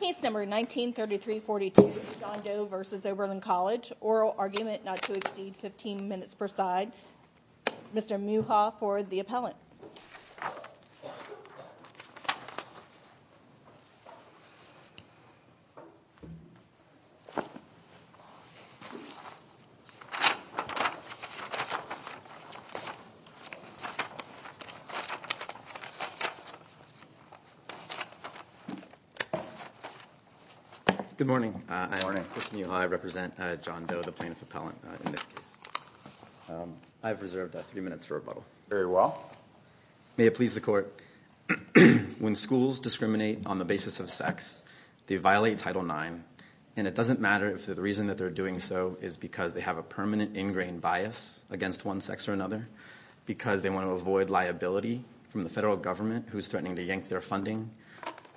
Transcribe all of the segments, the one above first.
Case number 1933-42 John Doe v. Oberlin College Oral argument not to exceed 15 minutes per side Mr. Muha for the appellant Good morning. I am Chris Muha. I represent John Doe, the plaintiff appellant in this case. I have reserved three minutes for rebuttal. Very well. May it please the court. When schools discriminate on the basis of sex, they violate Title IX, and it doesn't matter if the reason that they're doing so is because they have a permanent ingrained bias against one sex or another, because they want to avoid liability from the federal government who's threatening to yank their funding,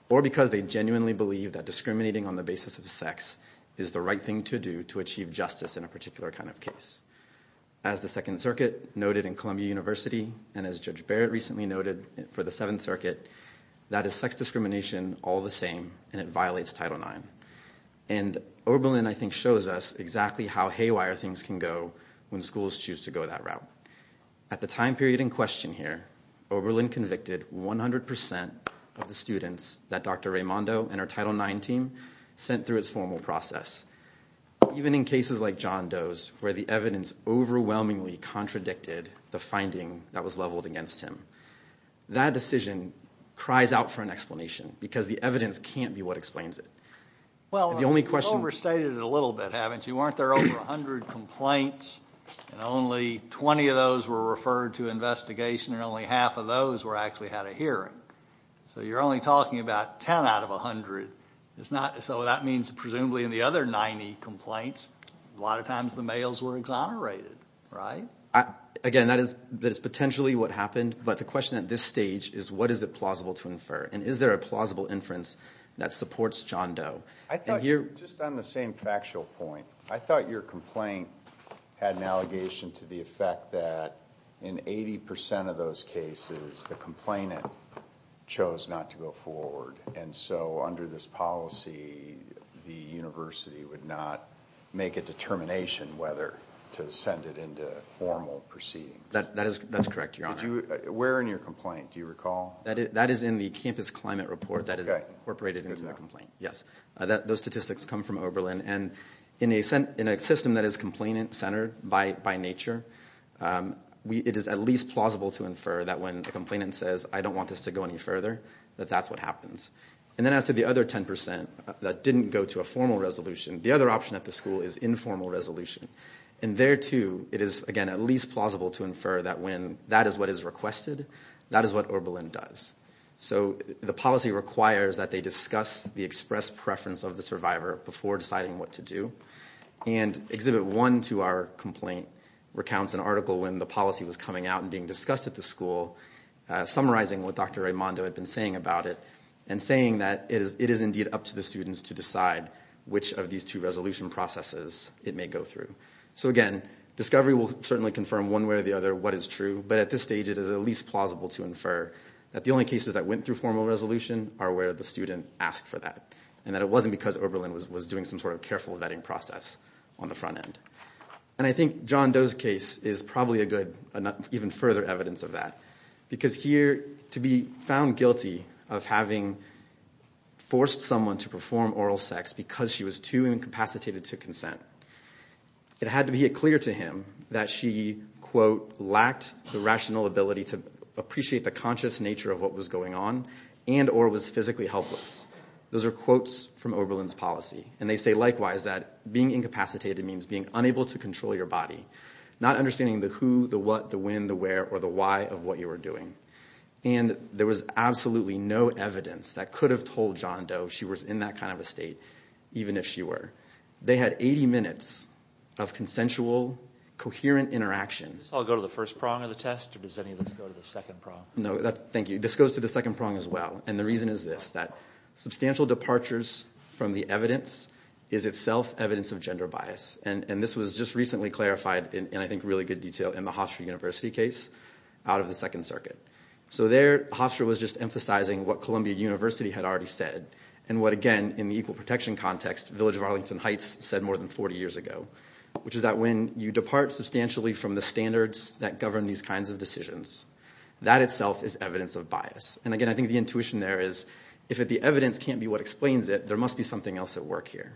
or because they genuinely believe that discriminating on the basis of sex is the right thing to do to achieve justice in a particular kind of case. As the Second Circuit noted in Columbia University, and as Judge Barrett recently noted for the Seventh Circuit, that is sex discrimination all the same, and it violates Title IX. And Oberlin, I think, shows us exactly how haywire things can go when schools choose to go that route. At the time period in question here, Oberlin convicted 100% of the students that Dr. Raimondo and her Title IX team sent through its formal process. Even in cases like John Doe's, where the evidence overwhelmingly contradicted the finding that was leveled against him, that decision cries out for an explanation, because the evidence can't be what explains it. Well, you've overstated it a little bit, haven't you? Weren't there over 100 complaints, and only 20 of those were referred to investigation, and only half of those actually had a hearing? So you're only talking about 10 out of 100. So that means, presumably, in the other 90 complaints, a lot of times the males were exonerated, right? Again, that is potentially what happened, but the question at this stage is, what is it plausible to infer? And is there a plausible inference that supports John Doe? I thought, just on the same factual point, I thought your complaint had an allegation to the effect that, in 80% of those cases, the complainant chose not to go forward. And so under this policy, the university would not make a determination whether to send it into formal proceedings. That's correct, Your Honor. Where in your complaint, do you recall? That is in the campus climate report that is incorporated into that complaint, yes. Those statistics come from Oberlin, and in a system that is complainant-centered by nature, it is at least plausible to infer that when the complainant says, I don't want this to go any further, that that's what happens. And then as to the other 10% that didn't go to a formal resolution, the other option at the school is informal resolution. And there, too, it is, again, at least plausible to infer that when that is what is requested, that is what Oberlin does. So the policy requires that they discuss the express preference of the survivor before deciding what to do. And Exhibit 1 to our complaint recounts an article when the policy was coming out and being discussed at the school, summarizing what Dr. Raimondo had been saying about it, and saying that it is indeed up to the students to decide which of these two resolution processes it may go through. So again, discovery will certainly confirm one way or the other what is true, but at this stage it is at least plausible to infer that the only cases that went through formal resolution are where the student asked for that, and that it wasn't because Oberlin was doing some sort of careful vetting process on the front end. And I think John Doe's case is probably a good, even further evidence of that, because here, to be found guilty of having forced someone to perform oral sex because she was too incapacitated to consent, it had to be clear to him that she, quote, lacked the rational ability to appreciate the conscious nature of what was going on and or was physically helpless. Those are quotes from Oberlin's policy, and they say likewise that being incapacitated means being unable to control your body, not understanding the who, the what, the when, the where, or the why of what you were doing. And there was absolutely no evidence that could have told John Doe she was in that kind of a state, even if she were. They had 80 minutes of consensual, coherent interaction. Does this all go to the first prong of the test, or does any of this go to the second prong? No, thank you. This goes to the second prong as well, and the reason is this, that substantial departures from the evidence is itself evidence of gender bias. And this was just recently clarified in, I think, really good detail in the Hofstra University case out of the Second Circuit. So there Hofstra was just emphasizing what Columbia University had already said, and what, again, in the equal protection context, Village of Arlington Heights said more than 40 years ago, which is that when you depart substantially from the standards that govern these kinds of decisions, that itself is evidence of bias. And again, I think the intuition there is if the evidence can't be what explains it, there must be something else at work here.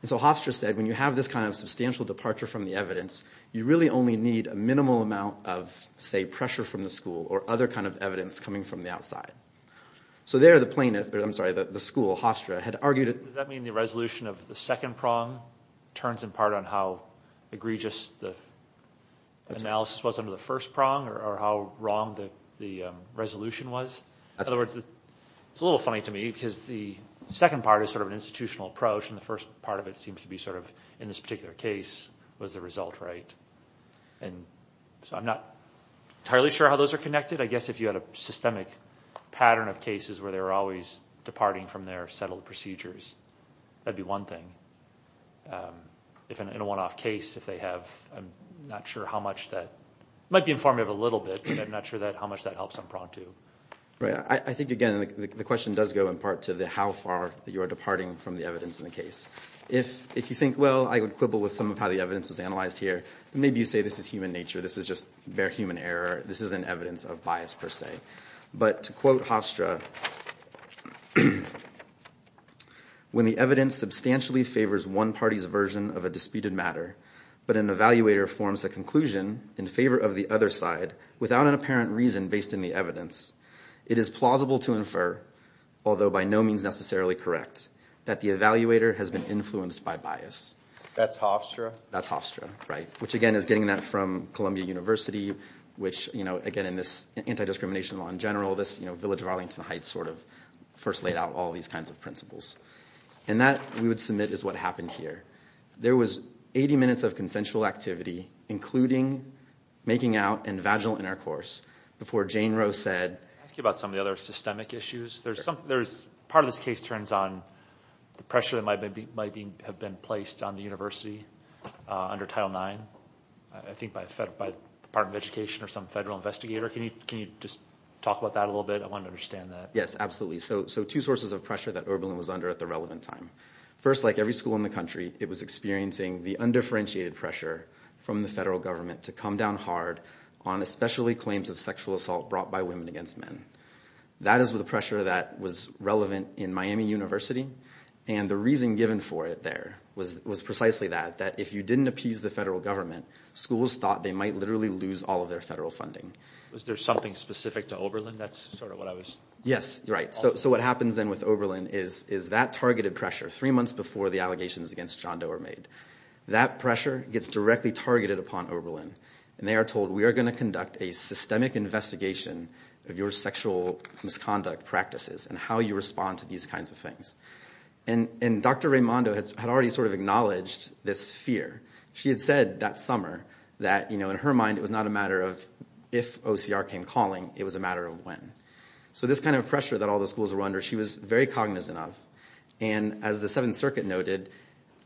And so Hofstra said when you have this kind of substantial departure from the evidence, you really only need a minimal amount of, say, pressure from the school or other kind of evidence coming from the outside. So there the plaintiff, I'm sorry, the school, Hofstra, had argued that... Does that mean the resolution of the second prong turns in part on how egregious the analysis was under the first prong, or how wrong the resolution was? In other words, it's a little funny to me because the second part is sort of an institutional approach and the first part of it seems to be sort of, in this particular case, was the result right? And so I'm not entirely sure how those are connected. I guess if you had a systemic pattern of cases where they were always departing from their settled procedures, that would be one thing. In a one-off case, if they have, I'm not sure how much that... It might be informative a little bit, but I'm not sure how much that helps on prong two. I think, again, the question does go in part to how far you are departing from the evidence in the case. If you think, well, I would quibble with some of how the evidence was analyzed here, maybe you say this is human nature, this is just bare human error, this isn't evidence of bias per se. But to quote Hofstra, when the evidence substantially favors one party's version of a disputed matter, but an evaluator forms a conclusion in favor of the other side without an apparent reason based in the evidence, it is plausible to infer, although by no means necessarily correct, that the evaluator has been influenced by bias. That's Hofstra? That's Hofstra, right? Which, again, is getting that from Columbia University, which, again, in this anti-discrimination law in general, this village of Arlington Heights sort of first laid out all these kinds of principles. And that, we would submit, is what happened here. There was 80 minutes of consensual activity, including making out and vaginal intercourse, before Jane Roe said- Can I ask you about some of the other systemic issues? Part of this case turns on the pressure that might have been placed on the university under Title IX, I think by the Department of Education or some federal investigator. Can you just talk about that a little bit? I want to understand that. Yes, absolutely. So two sources of pressure that Oberlin was under at the relevant time. First, like every school in the country, it was experiencing the undifferentiated pressure from the federal government to come down hard on especially claims of sexual assault brought by women against men. That is the pressure that was relevant in Miami University. And the reason given for it there was precisely that, that if you didn't appease the federal government, schools thought they might literally lose all of their federal funding. Was there something specific to Oberlin? That's sort of what I was- Yes, right. So what happens then with Oberlin is that targeted pressure, three months before the allegations against John Doe are made, that pressure gets directly targeted upon Oberlin. And they are told, we are going to conduct a systemic investigation of your sexual misconduct practices and how you respond to these kinds of things. And Dr. Raimondo had already sort of acknowledged this fear. She had said that summer that in her mind it was not a matter of if OCR came calling, it was a matter of when. So this kind of pressure that all the schools were under, she was very cognizant of. And as the Seventh Circuit noted,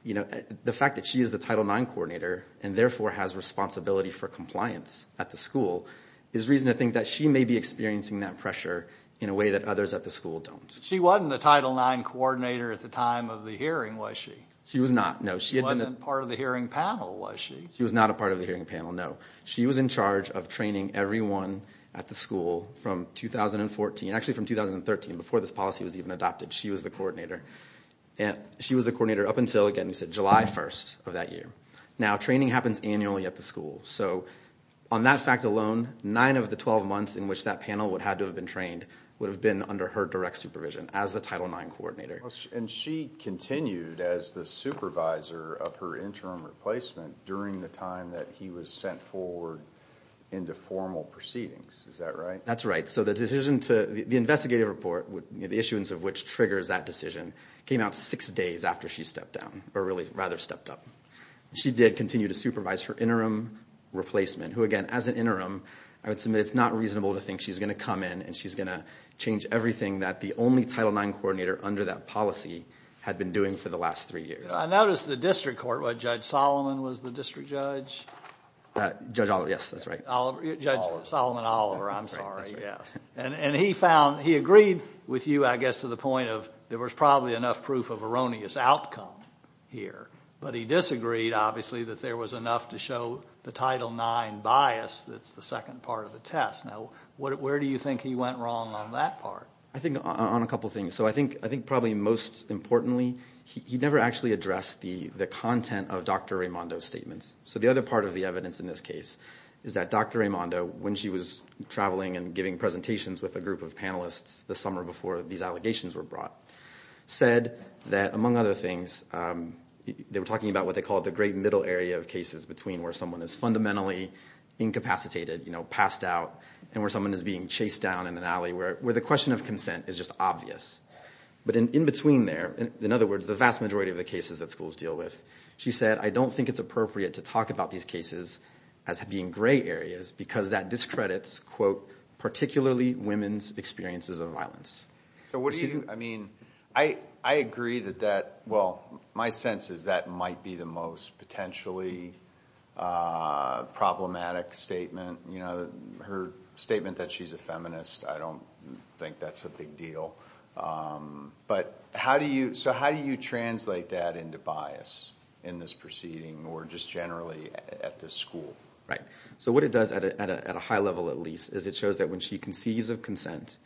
the fact that she is the Title IX coordinator and therefore has responsibility for compliance at the school, is reason to think that she may be experiencing that pressure in a way that others at the school don't. She wasn't the Title IX coordinator at the time of the hearing, was she? She was not, no. She wasn't part of the hearing panel, was she? She was not a part of the hearing panel, no. She was in charge of training everyone at the school from 2014, actually from 2013 before this policy was even adopted. She was the coordinator. She was the coordinator up until, again, you said July 1st of that year. Now training happens annually at the school. So on that fact alone, nine of the 12 months in which that panel would have had to have been trained would have been under her direct supervision as the Title IX coordinator. And she continued as the supervisor of her interim replacement during the time that he was sent forward into formal proceedings. Is that right? That's right. So the investigative report, the issuance of which triggers that decision, came out six days after she stepped down, or rather stepped up. She did continue to supervise her interim replacement, who, again, as an interim, I would submit it's not reasonable to think she's going to come in and she's going to change everything that the only Title IX coordinator under that policy had been doing for the last three years. I noticed the district court, Judge Solomon was the district judge? Judge Oliver, yes, that's right. Judge Solomon Oliver, I'm sorry, yes. And he agreed with you, I guess, to the point of there was probably enough proof of erroneous outcome here. But he disagreed, obviously, that there was enough to show the Title IX bias that's the second part of the test. Now where do you think he went wrong on that part? I think on a couple of things. I think probably most importantly, he never actually addressed the content of Dr. Raimondo's statements. So the other part of the evidence in this case is that Dr. Raimondo, when she was traveling and giving presentations with a group of panelists the summer before these allegations were brought, said that, among other things, they were talking about what they called the great middle area of cases between where someone is fundamentally incapacitated, passed out, and where someone is being chased down in an alley, where the question of consent is just obvious. But in between there, in other words, the vast majority of the cases that schools deal with, she said, I don't think it's appropriate to talk about these cases as being gray areas because that discredits quote, particularly women's experiences of violence. So what do you, I mean, I agree that that, well, my sense is that might be the most potentially problematic statement. You know, her statement that she's a feminist, I don't think that's a big deal. But how do you, so how do you translate that into bias in this proceeding or just generally at this school? Right, so what it does at a high level at least is it shows that when she conceives of consent,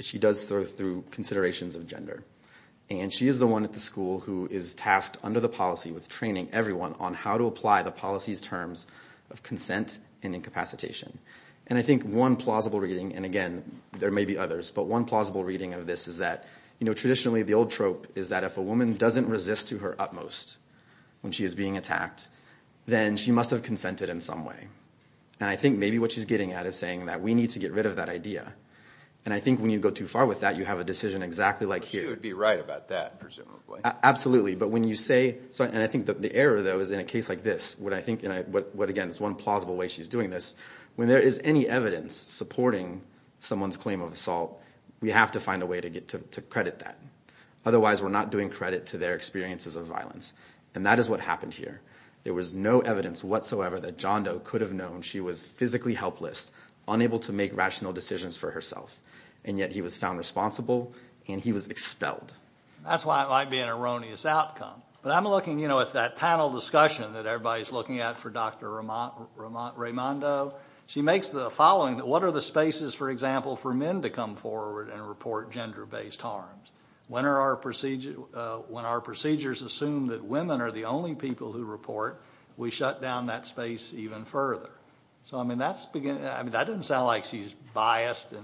she does so through considerations of gender. And she is the one at the school who is tasked under the policy with training everyone on how to apply the policy's terms of consent and incapacitation. And I think one plausible reading, and again, there may be others, but one plausible reading of this is that traditionally the old trope is that if a woman doesn't resist to her utmost when she is being attacked, then she must have consented in some way. And I think maybe what she's getting at is saying that we need to get rid of that idea. And I think when you go too far with that, you have a decision exactly like here. But she would be right about that, presumably. Absolutely, but when you say, and I think the error, though, is in a case like this, what I think, and again, it's one plausible way she's doing this, when there is any evidence supporting someone's claim of assault, we have to find a way to get to credit that. Otherwise we're not doing credit to their experiences of violence. And that is what happened here. There was no evidence whatsoever that John Doe could have known she was physically helpless, unable to make rational decisions for herself. And yet he was found responsible and he was expelled. That's why it might be an erroneous outcome. But I'm looking, you know, at that panel discussion that everybody's looking at for Dr. Raimondo. She makes the following. What are the spaces, for example, for men to come forward and report gender-based harms? When our procedures assume that women are the only people who report, we shut down that space even further. So, I mean, that doesn't sound like she's biased Not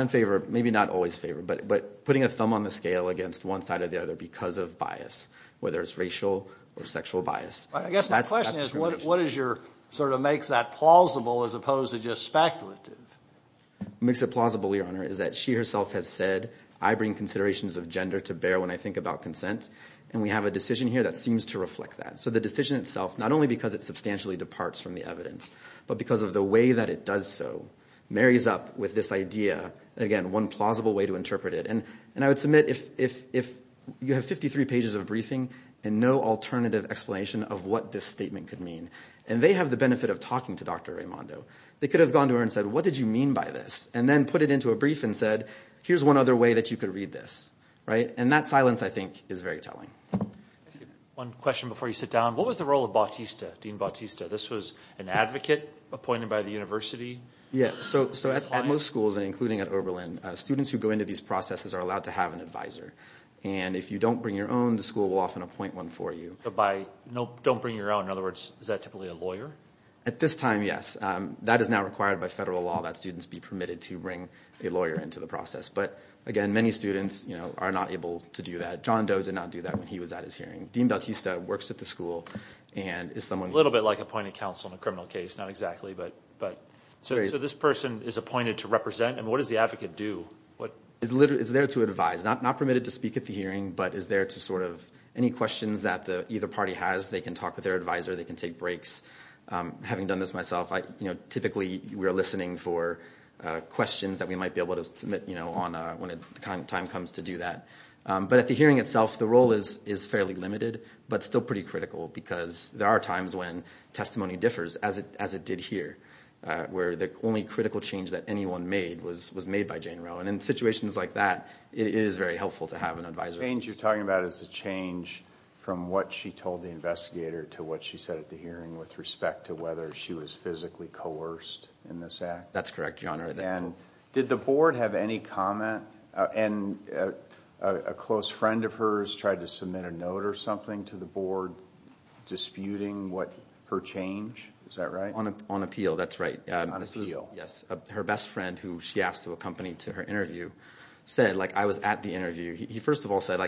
in favor, maybe not always in favor, but putting a thumb on the scale against one side or the other because of bias, whether it's racial or sexual bias. I guess my question is what is your sort of makes that plausible as opposed to just speculative? Makes it plausible, Your Honor, is that she herself has said, I bring considerations of gender to bear when I think about consent. And we have a decision here that seems to reflect that. So the decision itself, not only because it substantially departs from the evidence, but because of the way that it does so, marries up with this idea, again, one plausible way to interpret it. And I would submit if you have 53 pages of briefing and no alternative explanation of what this statement could mean, and they have the benefit of talking to Dr. Raimondo, they could have gone to her and said, What did you mean by this? And then put it into a brief and said, Here's one other way that you could read this. And that silence, I think, is very telling. One question before you sit down. What was the role of Batista, Dean Batista? This was an advocate appointed by the university? Yes. So at most schools, including at Oberlin, students who go into these processes are allowed to have an advisor. And if you don't bring your own, the school will often appoint one for you. Don't bring your own. In other words, is that typically a lawyer? At this time, yes. That is now required by federal law, that students be permitted to bring a lawyer into the process. But, again, many students are not able to do that. John Doe did not do that when he was at his hearing. Dean Batista works at the school. A little bit like appointing counsel in a criminal case. Not exactly. So this person is appointed to represent, and what does the advocate do? He's there to advise. Not permitted to speak at the hearing, but is there to sort of any questions that either party has, they can talk with their advisor, they can take breaks. Having done this myself, typically we're listening for questions that we might be able to submit when the time comes to do that. But at the hearing itself, the role is fairly limited, but still pretty critical because there are times when testimony differs. As it did here, where the only critical change that anyone made was made by Jane Rowan. In situations like that, it is very helpful to have an advisor. The change you're talking about is a change from what she told the investigator to what she said at the hearing with respect to whether she was physically coerced in this act? That's correct, Your Honor. Did the board have any comment? A close friend of hers tried to submit a note or something to the board disputing her change? Is that right? On appeal, that's right. On appeal. Yes. Her best friend, who she asked to accompany to her interview, said, like I was at the interview, he first of all said,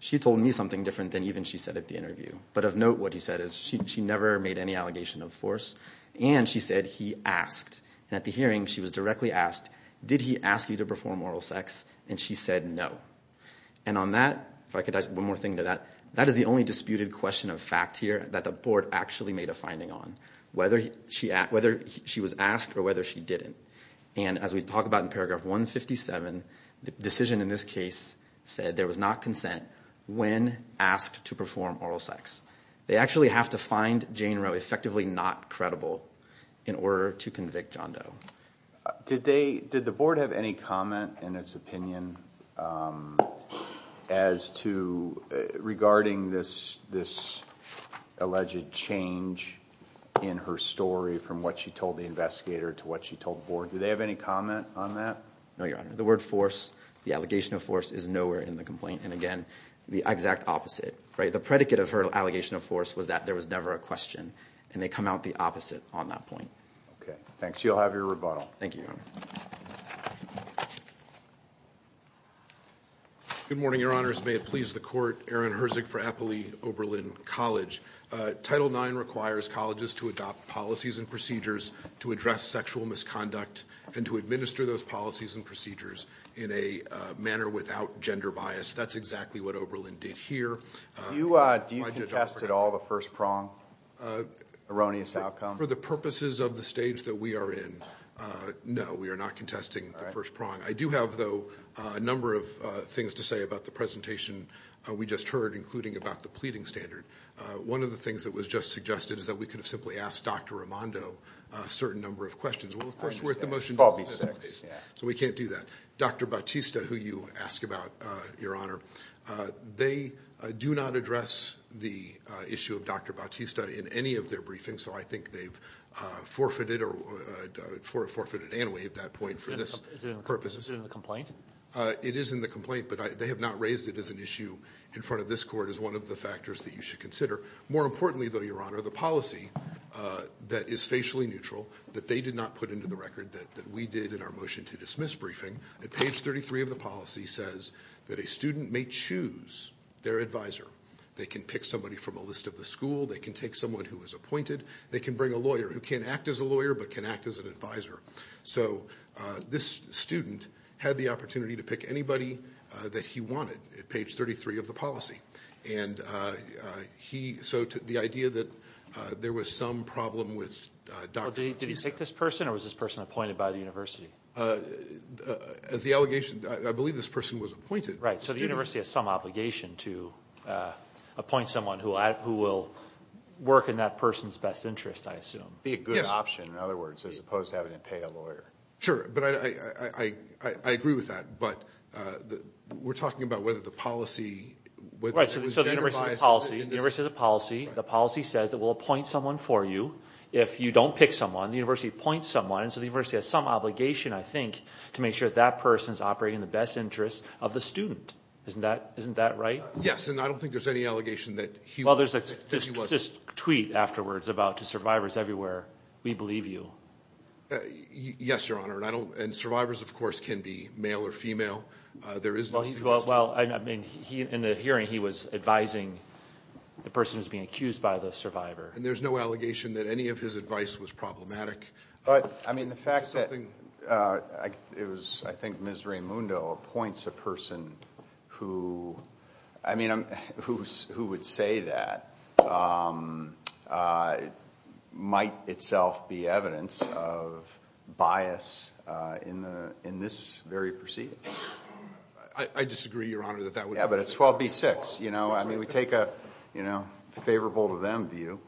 she told me something different than even she said at the interview. But of note, what he said is she never made any allegation of force, and she said he asked. And at the hearing, she was directly asked, did he ask you to perform oral sex? And she said no. And on that, if I could add one more thing to that, that is the only disputed question of fact here that the board actually made a finding on, whether she was asked or whether she didn't. And as we talk about in paragraph 157, the decision in this case said there was not consent when asked to perform oral sex. They actually have to find Jane Roe effectively not credible in order to convict John Doe. Did the board have any comment in its opinion as to regarding this alleged change in her story from what she told the investigator to what she told the board? Did they have any comment on that? No, Your Honor. The word force, the allegation of force, is nowhere in the complaint. And again, the exact opposite. The predicate of her allegation of force was that there was never a question, and they come out the opposite on that point. Okay, thanks. You'll have your rebuttal. Thank you, Your Honor. Good morning, Your Honors. May it please the Court. Aaron Herzig for Eppley Oberlin College. Title IX requires colleges to adopt policies and procedures to address sexual misconduct and to administer those policies and procedures in a manner without gender bias. That's exactly what Oberlin did here. Do you contest at all the first prong, erroneous outcome? For the purposes of the stage that we are in, no. We are not contesting the first prong. I do have, though, a number of things to say about the presentation we just heard, including about the pleading standard. One of the things that was just suggested is that we could have simply asked Dr. Armando a certain number of questions. Well, of course, we're at the motion to follow, so we can't do that. Dr. Bautista, who you asked about, Your Honor, they do not address the issue of Dr. Bautista in any of their briefings, so I think they've forfeited or forfeited anyway at that point for this purpose. Is it in the complaint? It is in the complaint, but they have not raised it as an issue in front of this court as one of the factors that you should consider. More importantly, though, Your Honor, the policy that is facially neutral that they did not put into the record that we did in our motion to dismiss briefing, at page 33 of the policy says that a student may choose their advisor. They can pick somebody from a list of the school. They can take someone who was appointed. They can bring a lawyer who can't act as a lawyer but can act as an advisor. So this student had the opportunity to pick anybody that he wanted at page 33 of the policy. So the idea that there was some problem with Dr. Bautista. Did he pick this person, or was this person appointed by the university? Right, so the university has some obligation to appoint someone who will work in that person's best interest, I assume. It would be a good option, in other words, as opposed to having to pay a lawyer. Sure, but I agree with that. But we're talking about whether the policy was generally biased. Right, so the university has a policy. The policy says that we'll appoint someone for you if you don't pick someone. The university appoints someone, so the university has some obligation, I think, to make sure that that person is operating in the best interest of the student. Isn't that right? Yes, and I don't think there's any allegation that he was. Well, there's this tweet afterwards about to survivors everywhere, we believe you. Yes, Your Honor, and survivors, of course, can be male or female. There is no suggestion. Well, I mean, in the hearing he was advising the person who was being accused by the survivor. And there's no allegation that any of his advice was problematic. But, I mean, the fact that it was, I think, Ms. Raimundo appoints a person who, I mean, who would say that might itself be evidence of bias in this very proceeding. I disagree, Your Honor, that that would. Yeah, but it's 12B-6. I mean, we take a favorable to them view.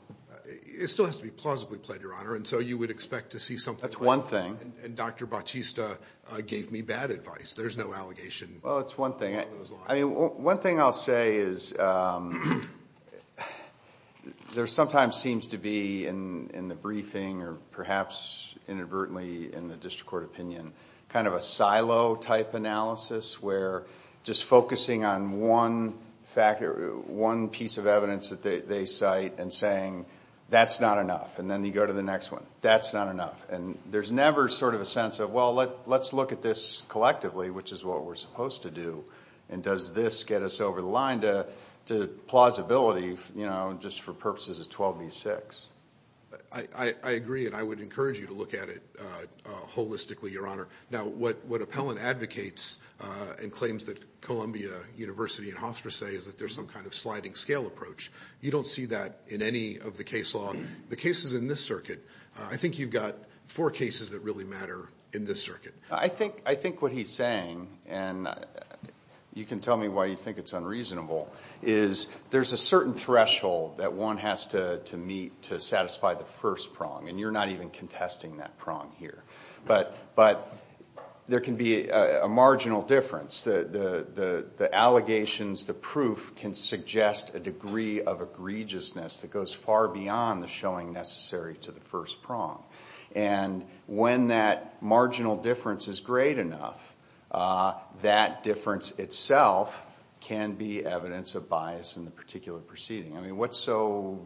It still has to be plausibly played, Your Honor, and so you would expect to see something like that. That's one thing. And Dr. Bautista gave me bad advice. There's no allegation along those lines. Well, it's one thing. I mean, one thing I'll say is there sometimes seems to be in the briefing, or perhaps inadvertently in the district court opinion, kind of a silo type analysis where just focusing on one piece of evidence that they cite and saying, that's not enough, and then you go to the next one. That's not enough. And there's never sort of a sense of, well, let's look at this collectively, which is what we're supposed to do, and does this get us over the line to plausibility, you know, just for purposes of 12B-6. I agree, and I would encourage you to look at it holistically, Your Honor. Now, what Appellant advocates and claims that Columbia University and Hofstra say is that there's some kind of sliding scale approach. You don't see that in any of the case law. The cases in this circuit, I think you've got four cases that really matter in this circuit. I think what he's saying, and you can tell me why you think it's unreasonable, is there's a certain threshold that one has to meet to satisfy the first prong, and you're not even contesting that prong here. But there can be a marginal difference. The allegations, the proof, can suggest a degree of egregiousness that goes far beyond the showing necessary to the first prong. And when that marginal difference is great enough, that difference itself can be evidence of bias in the particular proceeding. I mean, what's so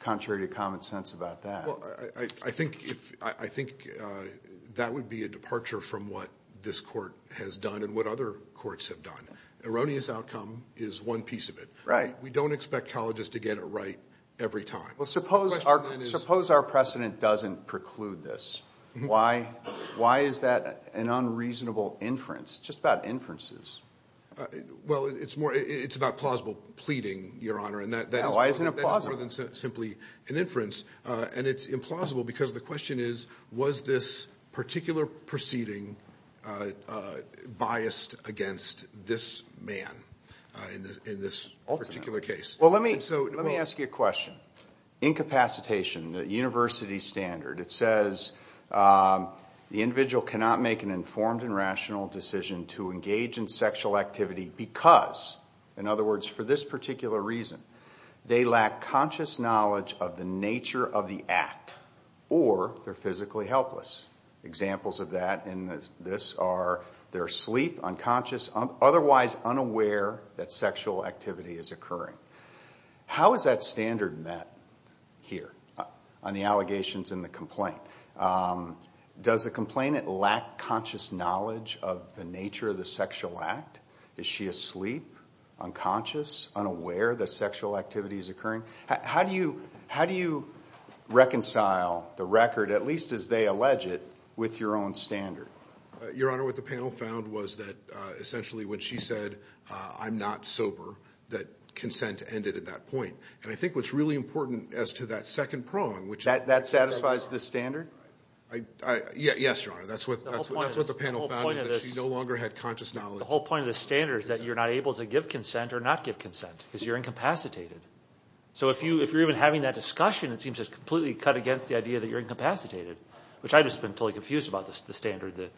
contrary to common sense about that? Well, I think that would be a departure from what this court has done and what other courts have done. Erroneous outcome is one piece of it. We don't expect colleges to get it right every time. Well, suppose our precedent doesn't preclude this. Why is that an unreasonable inference? It's just about inferences. Well, it's about plausible pleading, Your Honor, and that is more than simply an inference. And it's implausible because the question is, was this particular proceeding biased against this man in this particular case? Well, let me ask you a question. Incapacitation, the university standard, it says the individual cannot make an informed and rational decision to engage in sexual activity because, in other words, for this particular reason, they lack conscious knowledge of the nature of the act or they're physically helpless. Examples of that in this are they're asleep, unconscious, otherwise unaware that sexual activity is occurring. How is that standard met here on the allegations in the complaint? Does the complainant lack conscious knowledge of the nature of the sexual act? Is she asleep, unconscious, unaware that sexual activity is occurring? How do you reconcile the record, at least as they allege it, with your own standard? Your Honor, what the panel found was that, essentially, when she said, I'm not sober, that consent ended at that point. And I think what's really important as to that second prong, which I think is very important. That satisfies this standard? Yes, Your Honor. That's what the panel found is that she no longer had conscious knowledge. The whole point of the standard is that you're not able to give consent or not give consent because you're incapacitated. So if you're even having that discussion, it seems it's completely cut against the idea that you're incapacitated, which I've just been totally confused about the standard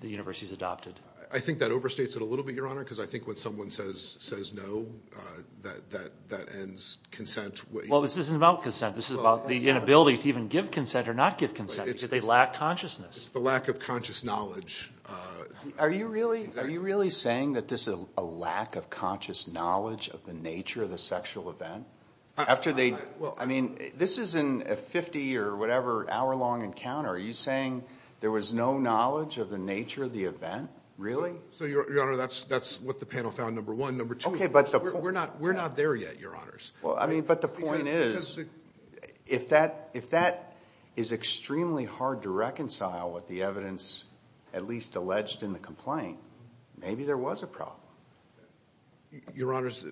the universities adopted. I think that overstates it a little bit, Your Honor, because I think when someone says no, that ends consent. Well, this isn't about consent. This is about the inability to even give consent or not give consent because they lack consciousness. It's the lack of conscious knowledge. Are you really saying that this is a lack of conscious knowledge of the nature of the sexual event? I mean, this isn't a 50 or whatever hour-long encounter. Are you saying there was no knowledge of the nature of the event? Really? So, Your Honor, that's what the panel found, number one. Number two, we're not there yet, Your Honors. But the point is, if that is extremely hard to reconcile with the evidence at least alleged in the complaint, maybe there was a problem. Your Honors,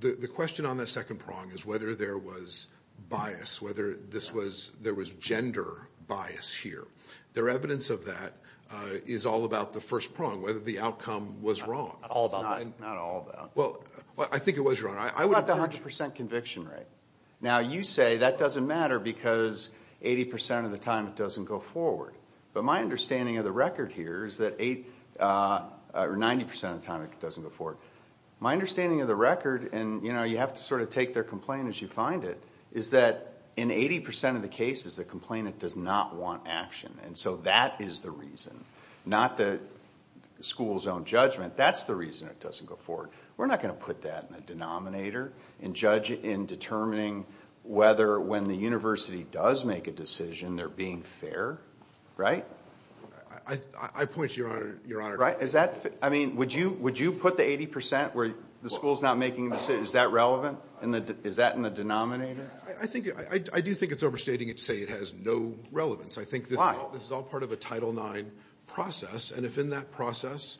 the question on that second prong is whether there was bias, whether there was gender bias here. There evidence of that is all about the first prong, whether the outcome was wrong. Not all about that. Well, I think it was, Your Honor. What about the 100 percent conviction rate? Now, you say that doesn't matter because 80 percent of the time it doesn't go forward. But my understanding of the record here is that 90 percent of the time it doesn't go forward. My understanding of the record, and you have to sort of take their complaint as you find it, is that in 80 percent of the cases, the complainant does not want action. And so that is the reason. Not the school's own judgment. That's the reason it doesn't go forward. We're not going to put that in the denominator and judge in determining whether when the university does make a decision they're being fair, right? I point to Your Honor. Right? I mean, would you put the 80 percent where the school's not making a decision? Is that relevant? Is that in the denominator? I do think it's overstating it to say it has no relevance. Why? I think this is all part of a Title IX process. And if in that process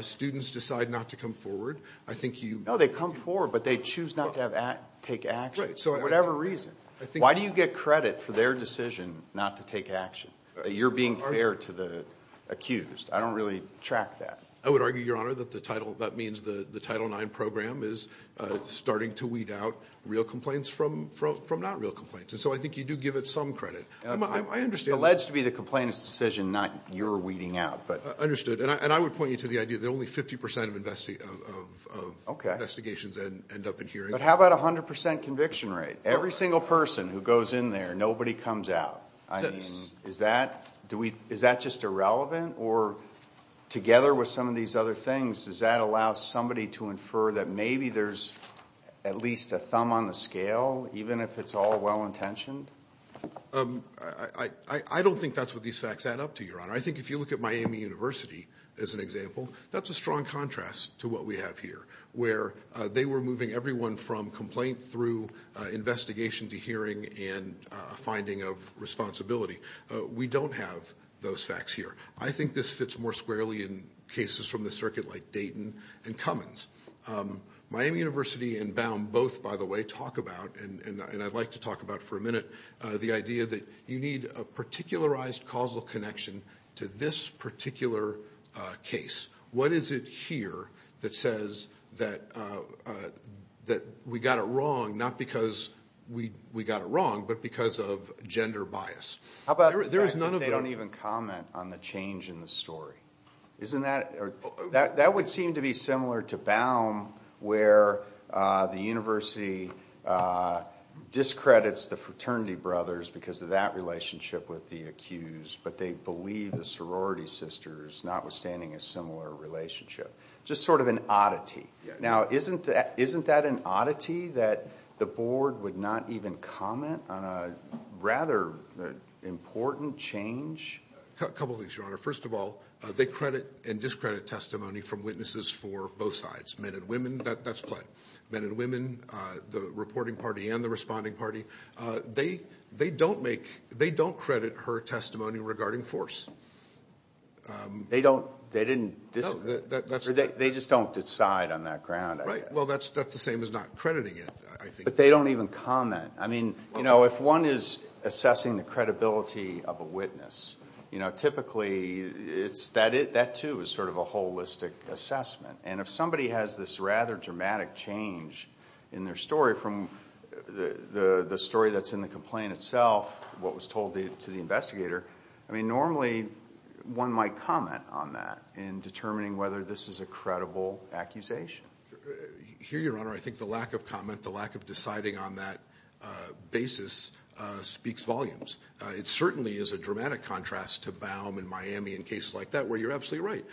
students decide not to come forward, I think you ---- No, they come forward, but they choose not to take action for whatever reason. Why do you get credit for their decision not to take action? You're being fair to the accused. I don't really track that. I would argue, Your Honor, that the Title IX program is starting to weed out real complaints from not real complaints. And so I think you do give it some credit. It's alleged to be the complainant's decision, not your weeding out. Understood. And I would point you to the idea that only 50 percent of investigations end up in hearing. But how about 100 percent conviction rate? Every single person who goes in there, nobody comes out. I mean, is that just irrelevant? Or together with some of these other things, does that allow somebody to infer that maybe there's at least a thumb on the scale, even if it's all well-intentioned? I don't think that's what these facts add up to, Your Honor. I think if you look at Miami University as an example, that's a strong contrast to what we have here, where they were moving everyone from complaint through investigation to hearing and finding of responsibility. We don't have those facts here. I think this fits more squarely in cases from the circuit like Dayton and Cummins. Miami University and Baum both, by the way, talk about, and I'd like to talk about for a minute, the idea that you need a particularized causal connection to this particular case. What is it here that says that we got it wrong, not because we got it wrong, but because of gender bias? How about they don't even comment on the change in the story? That would seem to be similar to Baum, where the university discredits the fraternity brothers because of that relationship with the accused, but they believe the sorority sisters, notwithstanding a similar relationship. Just sort of an oddity. Now, isn't that an oddity, that the board would not even comment on a rather important change? A couple of things, Your Honor. First of all, they credit and discredit testimony from witnesses for both sides, men and women. That's pled. Men and women, the reporting party and the responding party, they don't credit her testimony regarding force. They just don't decide on that ground. Right. Well, that's the same as not crediting it, I think. But they don't even comment. If one is assessing the credibility of a witness, typically that, too, is sort of a holistic assessment. And if somebody has this rather dramatic change in their story from the story that's in the complaint itself, what was told to the investigator, normally one might comment on that in determining whether this is a credible accusation. Here, Your Honor, I think the lack of comment, the lack of deciding on that basis speaks volumes. It certainly is a dramatic contrast to Baum in Miami in cases like that where you're absolutely right.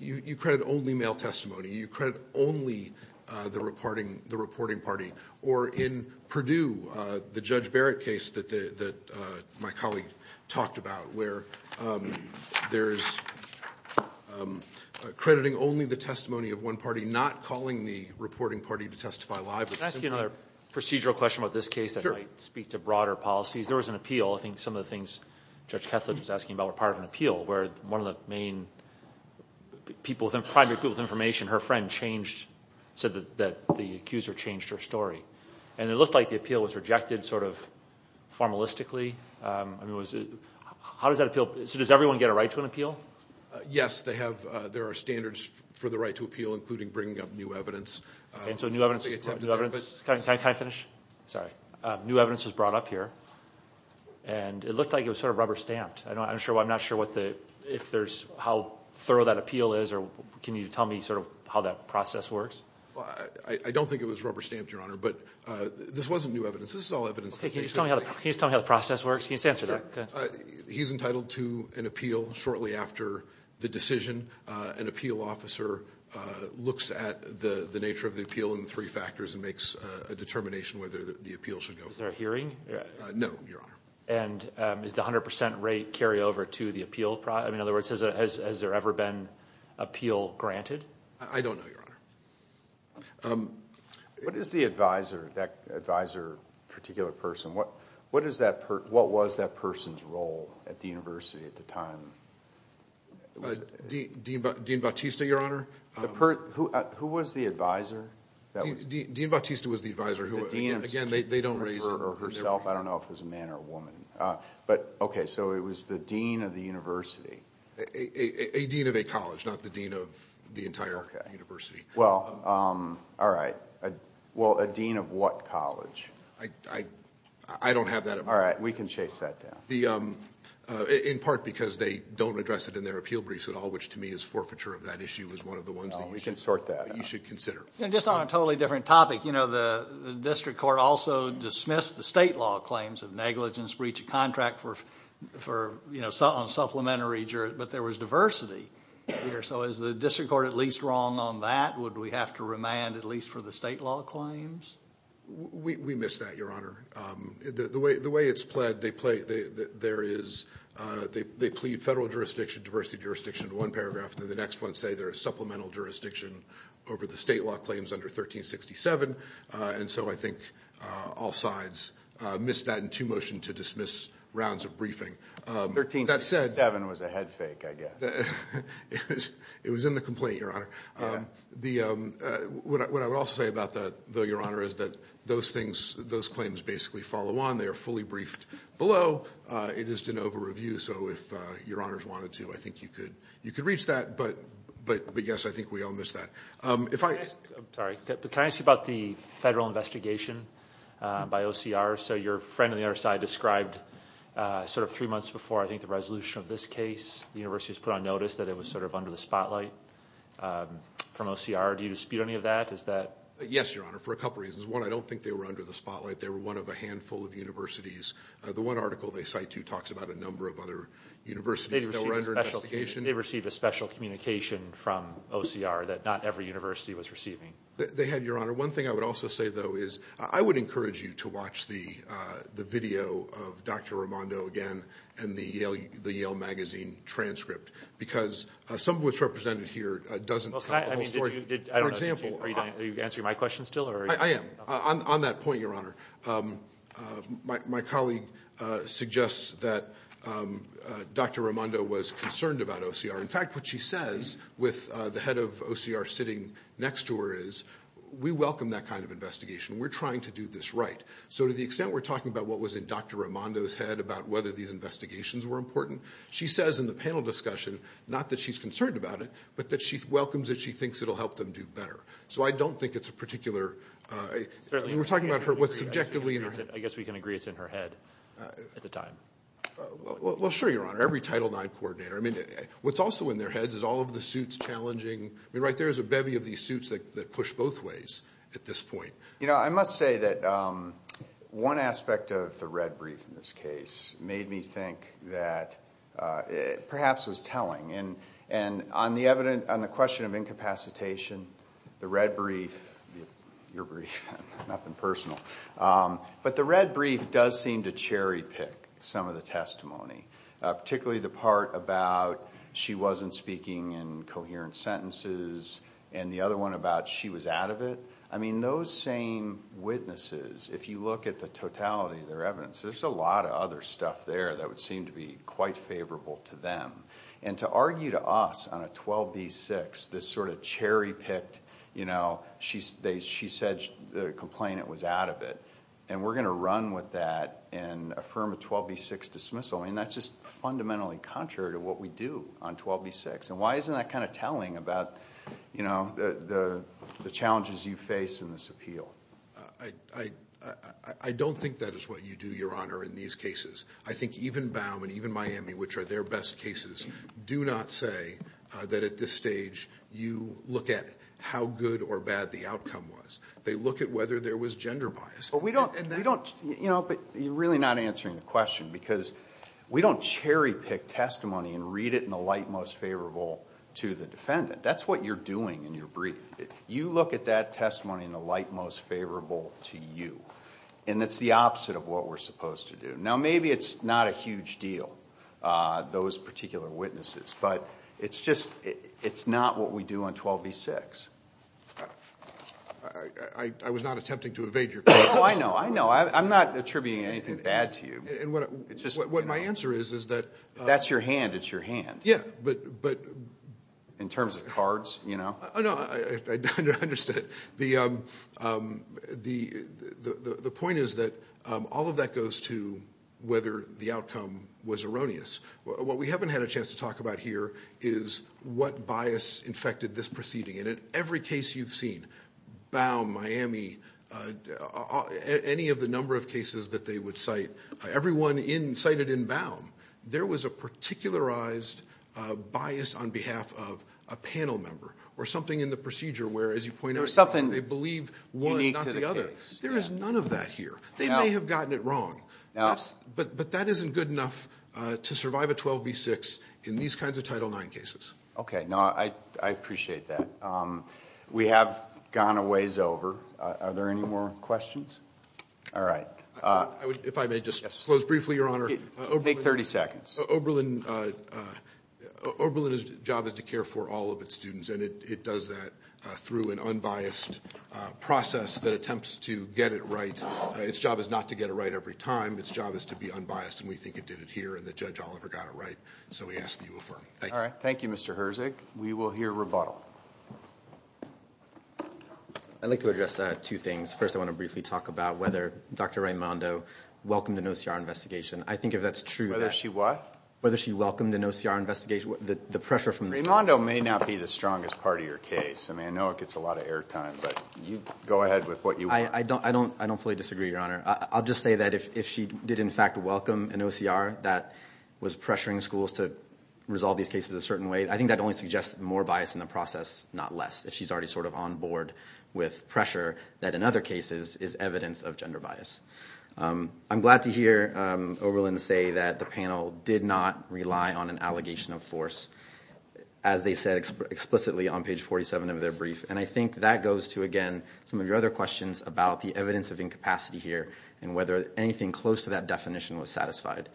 You credit only male testimony. You credit only the reporting party. Or in Purdue, the Judge Barrett case that my colleague talked about where there's crediting only the testimony of one party, not calling the reporting party to testify live. Can I ask you another procedural question about this case that might speak to broader policies? Sure. There was an appeal. I think some of the things Judge Kethledge was asking about were part of an appeal where one of the main people, her friend changed, said that the accuser changed her story. And it looked like the appeal was rejected sort of formalistically. How does that appeal? So does everyone get a right to an appeal? Yes. There are standards for the right to appeal, including bringing up new evidence. Can I finish? Sorry. New evidence was brought up here, and it looked like it was sort of rubber stamped. I'm not sure if there's how thorough that appeal is, or can you tell me sort of how that process works? I don't think it was rubber stamped, Your Honor, but this wasn't new evidence. This is all evidence. Can you just tell me how the process works? Can you just answer that? Sure. He's entitled to an appeal shortly after the decision. An appeal officer looks at the nature of the appeal and the three factors and makes a determination whether the appeal should go forward. Is there a hearing? No, Your Honor. And does the 100 percent rate carry over to the appeal? In other words, has there ever been appeal granted? I don't know, Your Honor. What is the advisor, that advisor particular person, what was that person's role at the university at the time? Dean Bautista, Your Honor. Who was the advisor? Dean Bautista was the advisor. Again, they don't raise it. I don't know if it was a man or a woman. Okay, so it was the dean of the university. A dean of a college, not the dean of the entire university. Well, all right. Well, a dean of what college? I don't have that information. All right. We can chase that down. In part because they don't address it in their appeal briefs at all, which to me is forfeiture of that issue, is one of the ones that you should consider. Oh, we can sort that out. Just on a totally different topic, you know, the district court also dismissed the state law claims of negligence, breach of contract on supplementary jurisdiction, but there was diversity here. So is the district court at least wrong on that? Would we have to remand at least for the state law claims? We miss that, Your Honor. The way it's pled, they plead federal jurisdiction, diversity jurisdiction in one paragraph, and then the next one say there is supplemental jurisdiction over the state law claims under 1367. And so I think all sides missed that in two motion to dismiss rounds of briefing. 1367 was a head fake, I guess. It was in the complaint, Your Honor. What I would also say about that, though, Your Honor, is that those things, those claims basically follow on. They are fully briefed below. It is de novo review. So if Your Honors wanted to, I think you could reach that. But, yes, I think we all missed that. Can I ask you about the federal investigation by OCR? So your friend on the other side described sort of three months before, I think, the resolution of this case, the university has put on notice that it was sort of under the spotlight from OCR. Do you dispute any of that? Yes, Your Honor, for a couple of reasons. One, I don't think they were under the spotlight. They were one of a handful of universities. The one article they cite, too, talks about a number of other universities that were under investigation. They received a special communication from OCR that not every university was receiving. They had, Your Honor. One thing I would also say, though, is I would encourage you to watch the video of Dr. Raimondo again and the Yale Magazine transcript because some of what's represented here doesn't tell the whole story. I don't know. Are you answering my question still? I am, on that point, Your Honor. My colleague suggests that Dr. Raimondo was concerned about OCR. In fact, what she says with the head of OCR sitting next to her is, we welcome that kind of investigation. We're trying to do this right. So to the extent we're talking about what was in Dr. Raimondo's head about whether these investigations were important, she says in the panel discussion, not that she's concerned about it, but that she welcomes it, she thinks it will help them do better. So I don't think it's a particular. We're talking about what's subjectively in her head. I guess we can agree it's in her head at the time. Well, sure, Your Honor. Every Title IX coordinator. I mean, what's also in their heads is all of the suits challenging. I mean, right there is a bevy of these suits that push both ways at this point. You know, I must say that one aspect of the red brief in this case made me think that it perhaps was telling. On the question of incapacitation, the red brief, your brief, nothing personal, but the red brief does seem to cherry pick some of the testimony, particularly the part about she wasn't speaking in coherent sentences and the other one about she was out of it. I mean, those same witnesses, if you look at the totality of their evidence, there's a lot of other stuff there that would seem to be quite favorable to them. And to argue to us on a 12B6, this sort of cherry picked, you know, she said the complainant was out of it, and we're going to run with that and affirm a 12B6 dismissal, I mean, that's just fundamentally contrary to what we do on 12B6. And why isn't that kind of telling about, you know, the challenges you face in this appeal? I don't think that is what you do, Your Honor, in these cases. I think even Baum and even Miami, which are their best cases, do not say that at this stage you look at how good or bad the outcome was. They look at whether there was gender bias. But we don't, you know, but you're really not answering the question because we don't cherry pick testimony and read it in the light most favorable to the defendant. That's what you're doing in your brief. You look at that testimony in the light most favorable to you, and it's the opposite of what we're supposed to do. Now, maybe it's not a huge deal, those particular witnesses, but it's just it's not what we do on 12B6. I was not attempting to evade your question. Oh, I know, I know. I'm not attributing anything bad to you. What my answer is is that... That's your hand. It's your hand. Yeah, but... In terms of cards, you know. Oh, no, I understand. The point is that all of that goes to whether the outcome was erroneous. What we haven't had a chance to talk about here is what bias infected this proceeding. And in every case you've seen, Baum, Miami, any of the number of cases that they would cite, everyone cited in Baum, there was a particularized bias on behalf of a panel member or something in the procedure where, as you point out, they believe one, not the other. There's something unique to the case. There is none of that here. They may have gotten it wrong. No. But that isn't good enough to survive a 12B6 in these kinds of Title IX cases. Okay. No, I appreciate that. We have gone a ways over. Are there any more questions? All right. If I may just close briefly, Your Honor. Take 30 seconds. Oberlin's job is to care for all of its students, and it does that through an unbiased process that attempts to get it right. Its job is not to get it right every time. Its job is to be unbiased, and we think it did it here, and that Judge Oliver got it right. So we ask that you affirm. Thank you. All right. Thank you, Mr. Herzig. We will hear rebuttal. I'd like to address two things. First, I want to briefly talk about whether Dr. Raimondo welcomed an OCR investigation. I think if that's true. Whether she what? Whether she welcomed an OCR investigation. Raimondo may not be the strongest part of your case. I mean, I know it gets a lot of air time, but go ahead with what you want. I don't fully disagree, Your Honor. I'll just say that if she did, in fact, welcome an OCR that was pressuring schools to resolve these cases a certain way, I think that only suggests more bias in the process, not less, if she's already sort of on board with pressure that, in other cases, is evidence of gender bias. I'm glad to hear Oberlin say that the panel did not rely on an allegation of force, as they said explicitly on page 47 of their brief. And I think that goes to, again, some of your other questions about the evidence of incapacity here and whether anything close to that definition was satisfied.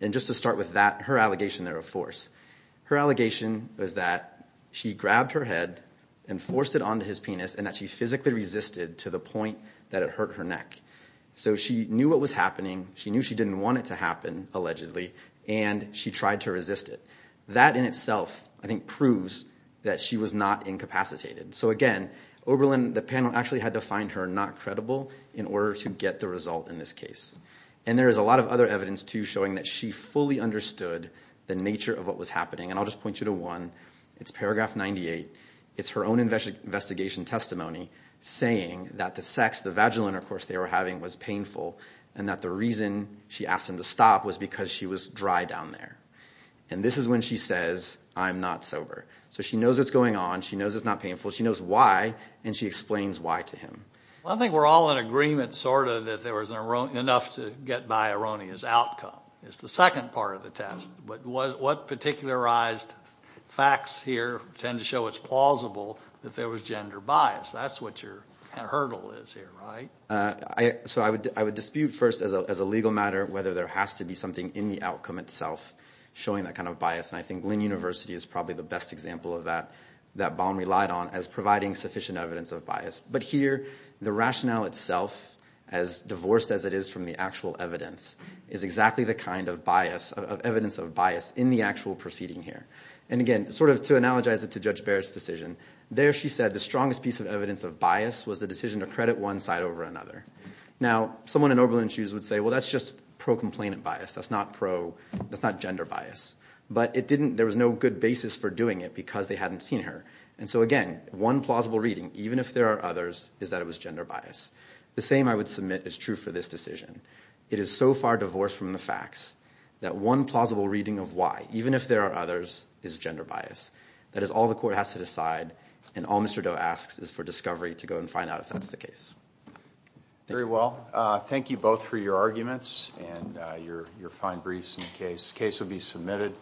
And just to start with that, her allegation there of force. Her allegation was that she grabbed her head and forced it onto his penis and that she physically resisted to the point that it hurt her neck. So she knew what was happening. She knew she didn't want it to happen, allegedly, and she tried to resist it. That in itself, I think, proves that she was not incapacitated. So, again, Oberlin, the panel actually had to find her not credible in order to get the result in this case. And there is a lot of other evidence, too, showing that she fully understood the nature of what was happening. And I'll just point you to one. It's paragraph 98. It's her own investigation testimony saying that the sex, the vaginal intercourse they were having, was painful and that the reason she asked him to stop was because she was dry down there. And this is when she says, I'm not sober. So she knows what's going on. She knows it's not painful. She knows why, and she explains why to him. Well, I think we're all in agreement, sort of, that there was enough to get by erroneous outcome. It's the second part of the test. But what particularized facts here tend to show it's plausible that there was gender bias? That's what your hurdle is here, right? So I would dispute first, as a legal matter, whether there has to be something in the outcome itself showing that kind of bias. And I think Lynn University is probably the best example of that, that Baum relied on, as providing sufficient evidence of bias. But here, the rationale itself, as divorced as it is from the actual evidence, is exactly the kind of evidence of bias in the actual proceeding here. And again, sort of to analogize it to Judge Barrett's decision, there she said the strongest piece of evidence of bias was the decision to credit one side over another. Now, someone in Oberlin's shoes would say, well, that's just pro-complainant bias. That's not gender bias. But there was no good basis for doing it because they hadn't seen her. And so again, one plausible reading, even if there are others, is that it was gender bias. The same I would submit is true for this decision. It is so far divorced from the facts that one plausible reading of why, even if there are others, is gender bias. That is all the court has to decide, and all Mr. Doe asks is for discovery to go and find out if that's the case. Very well. Thank you both for your arguments and your fine briefs in the case. The case will be submitted.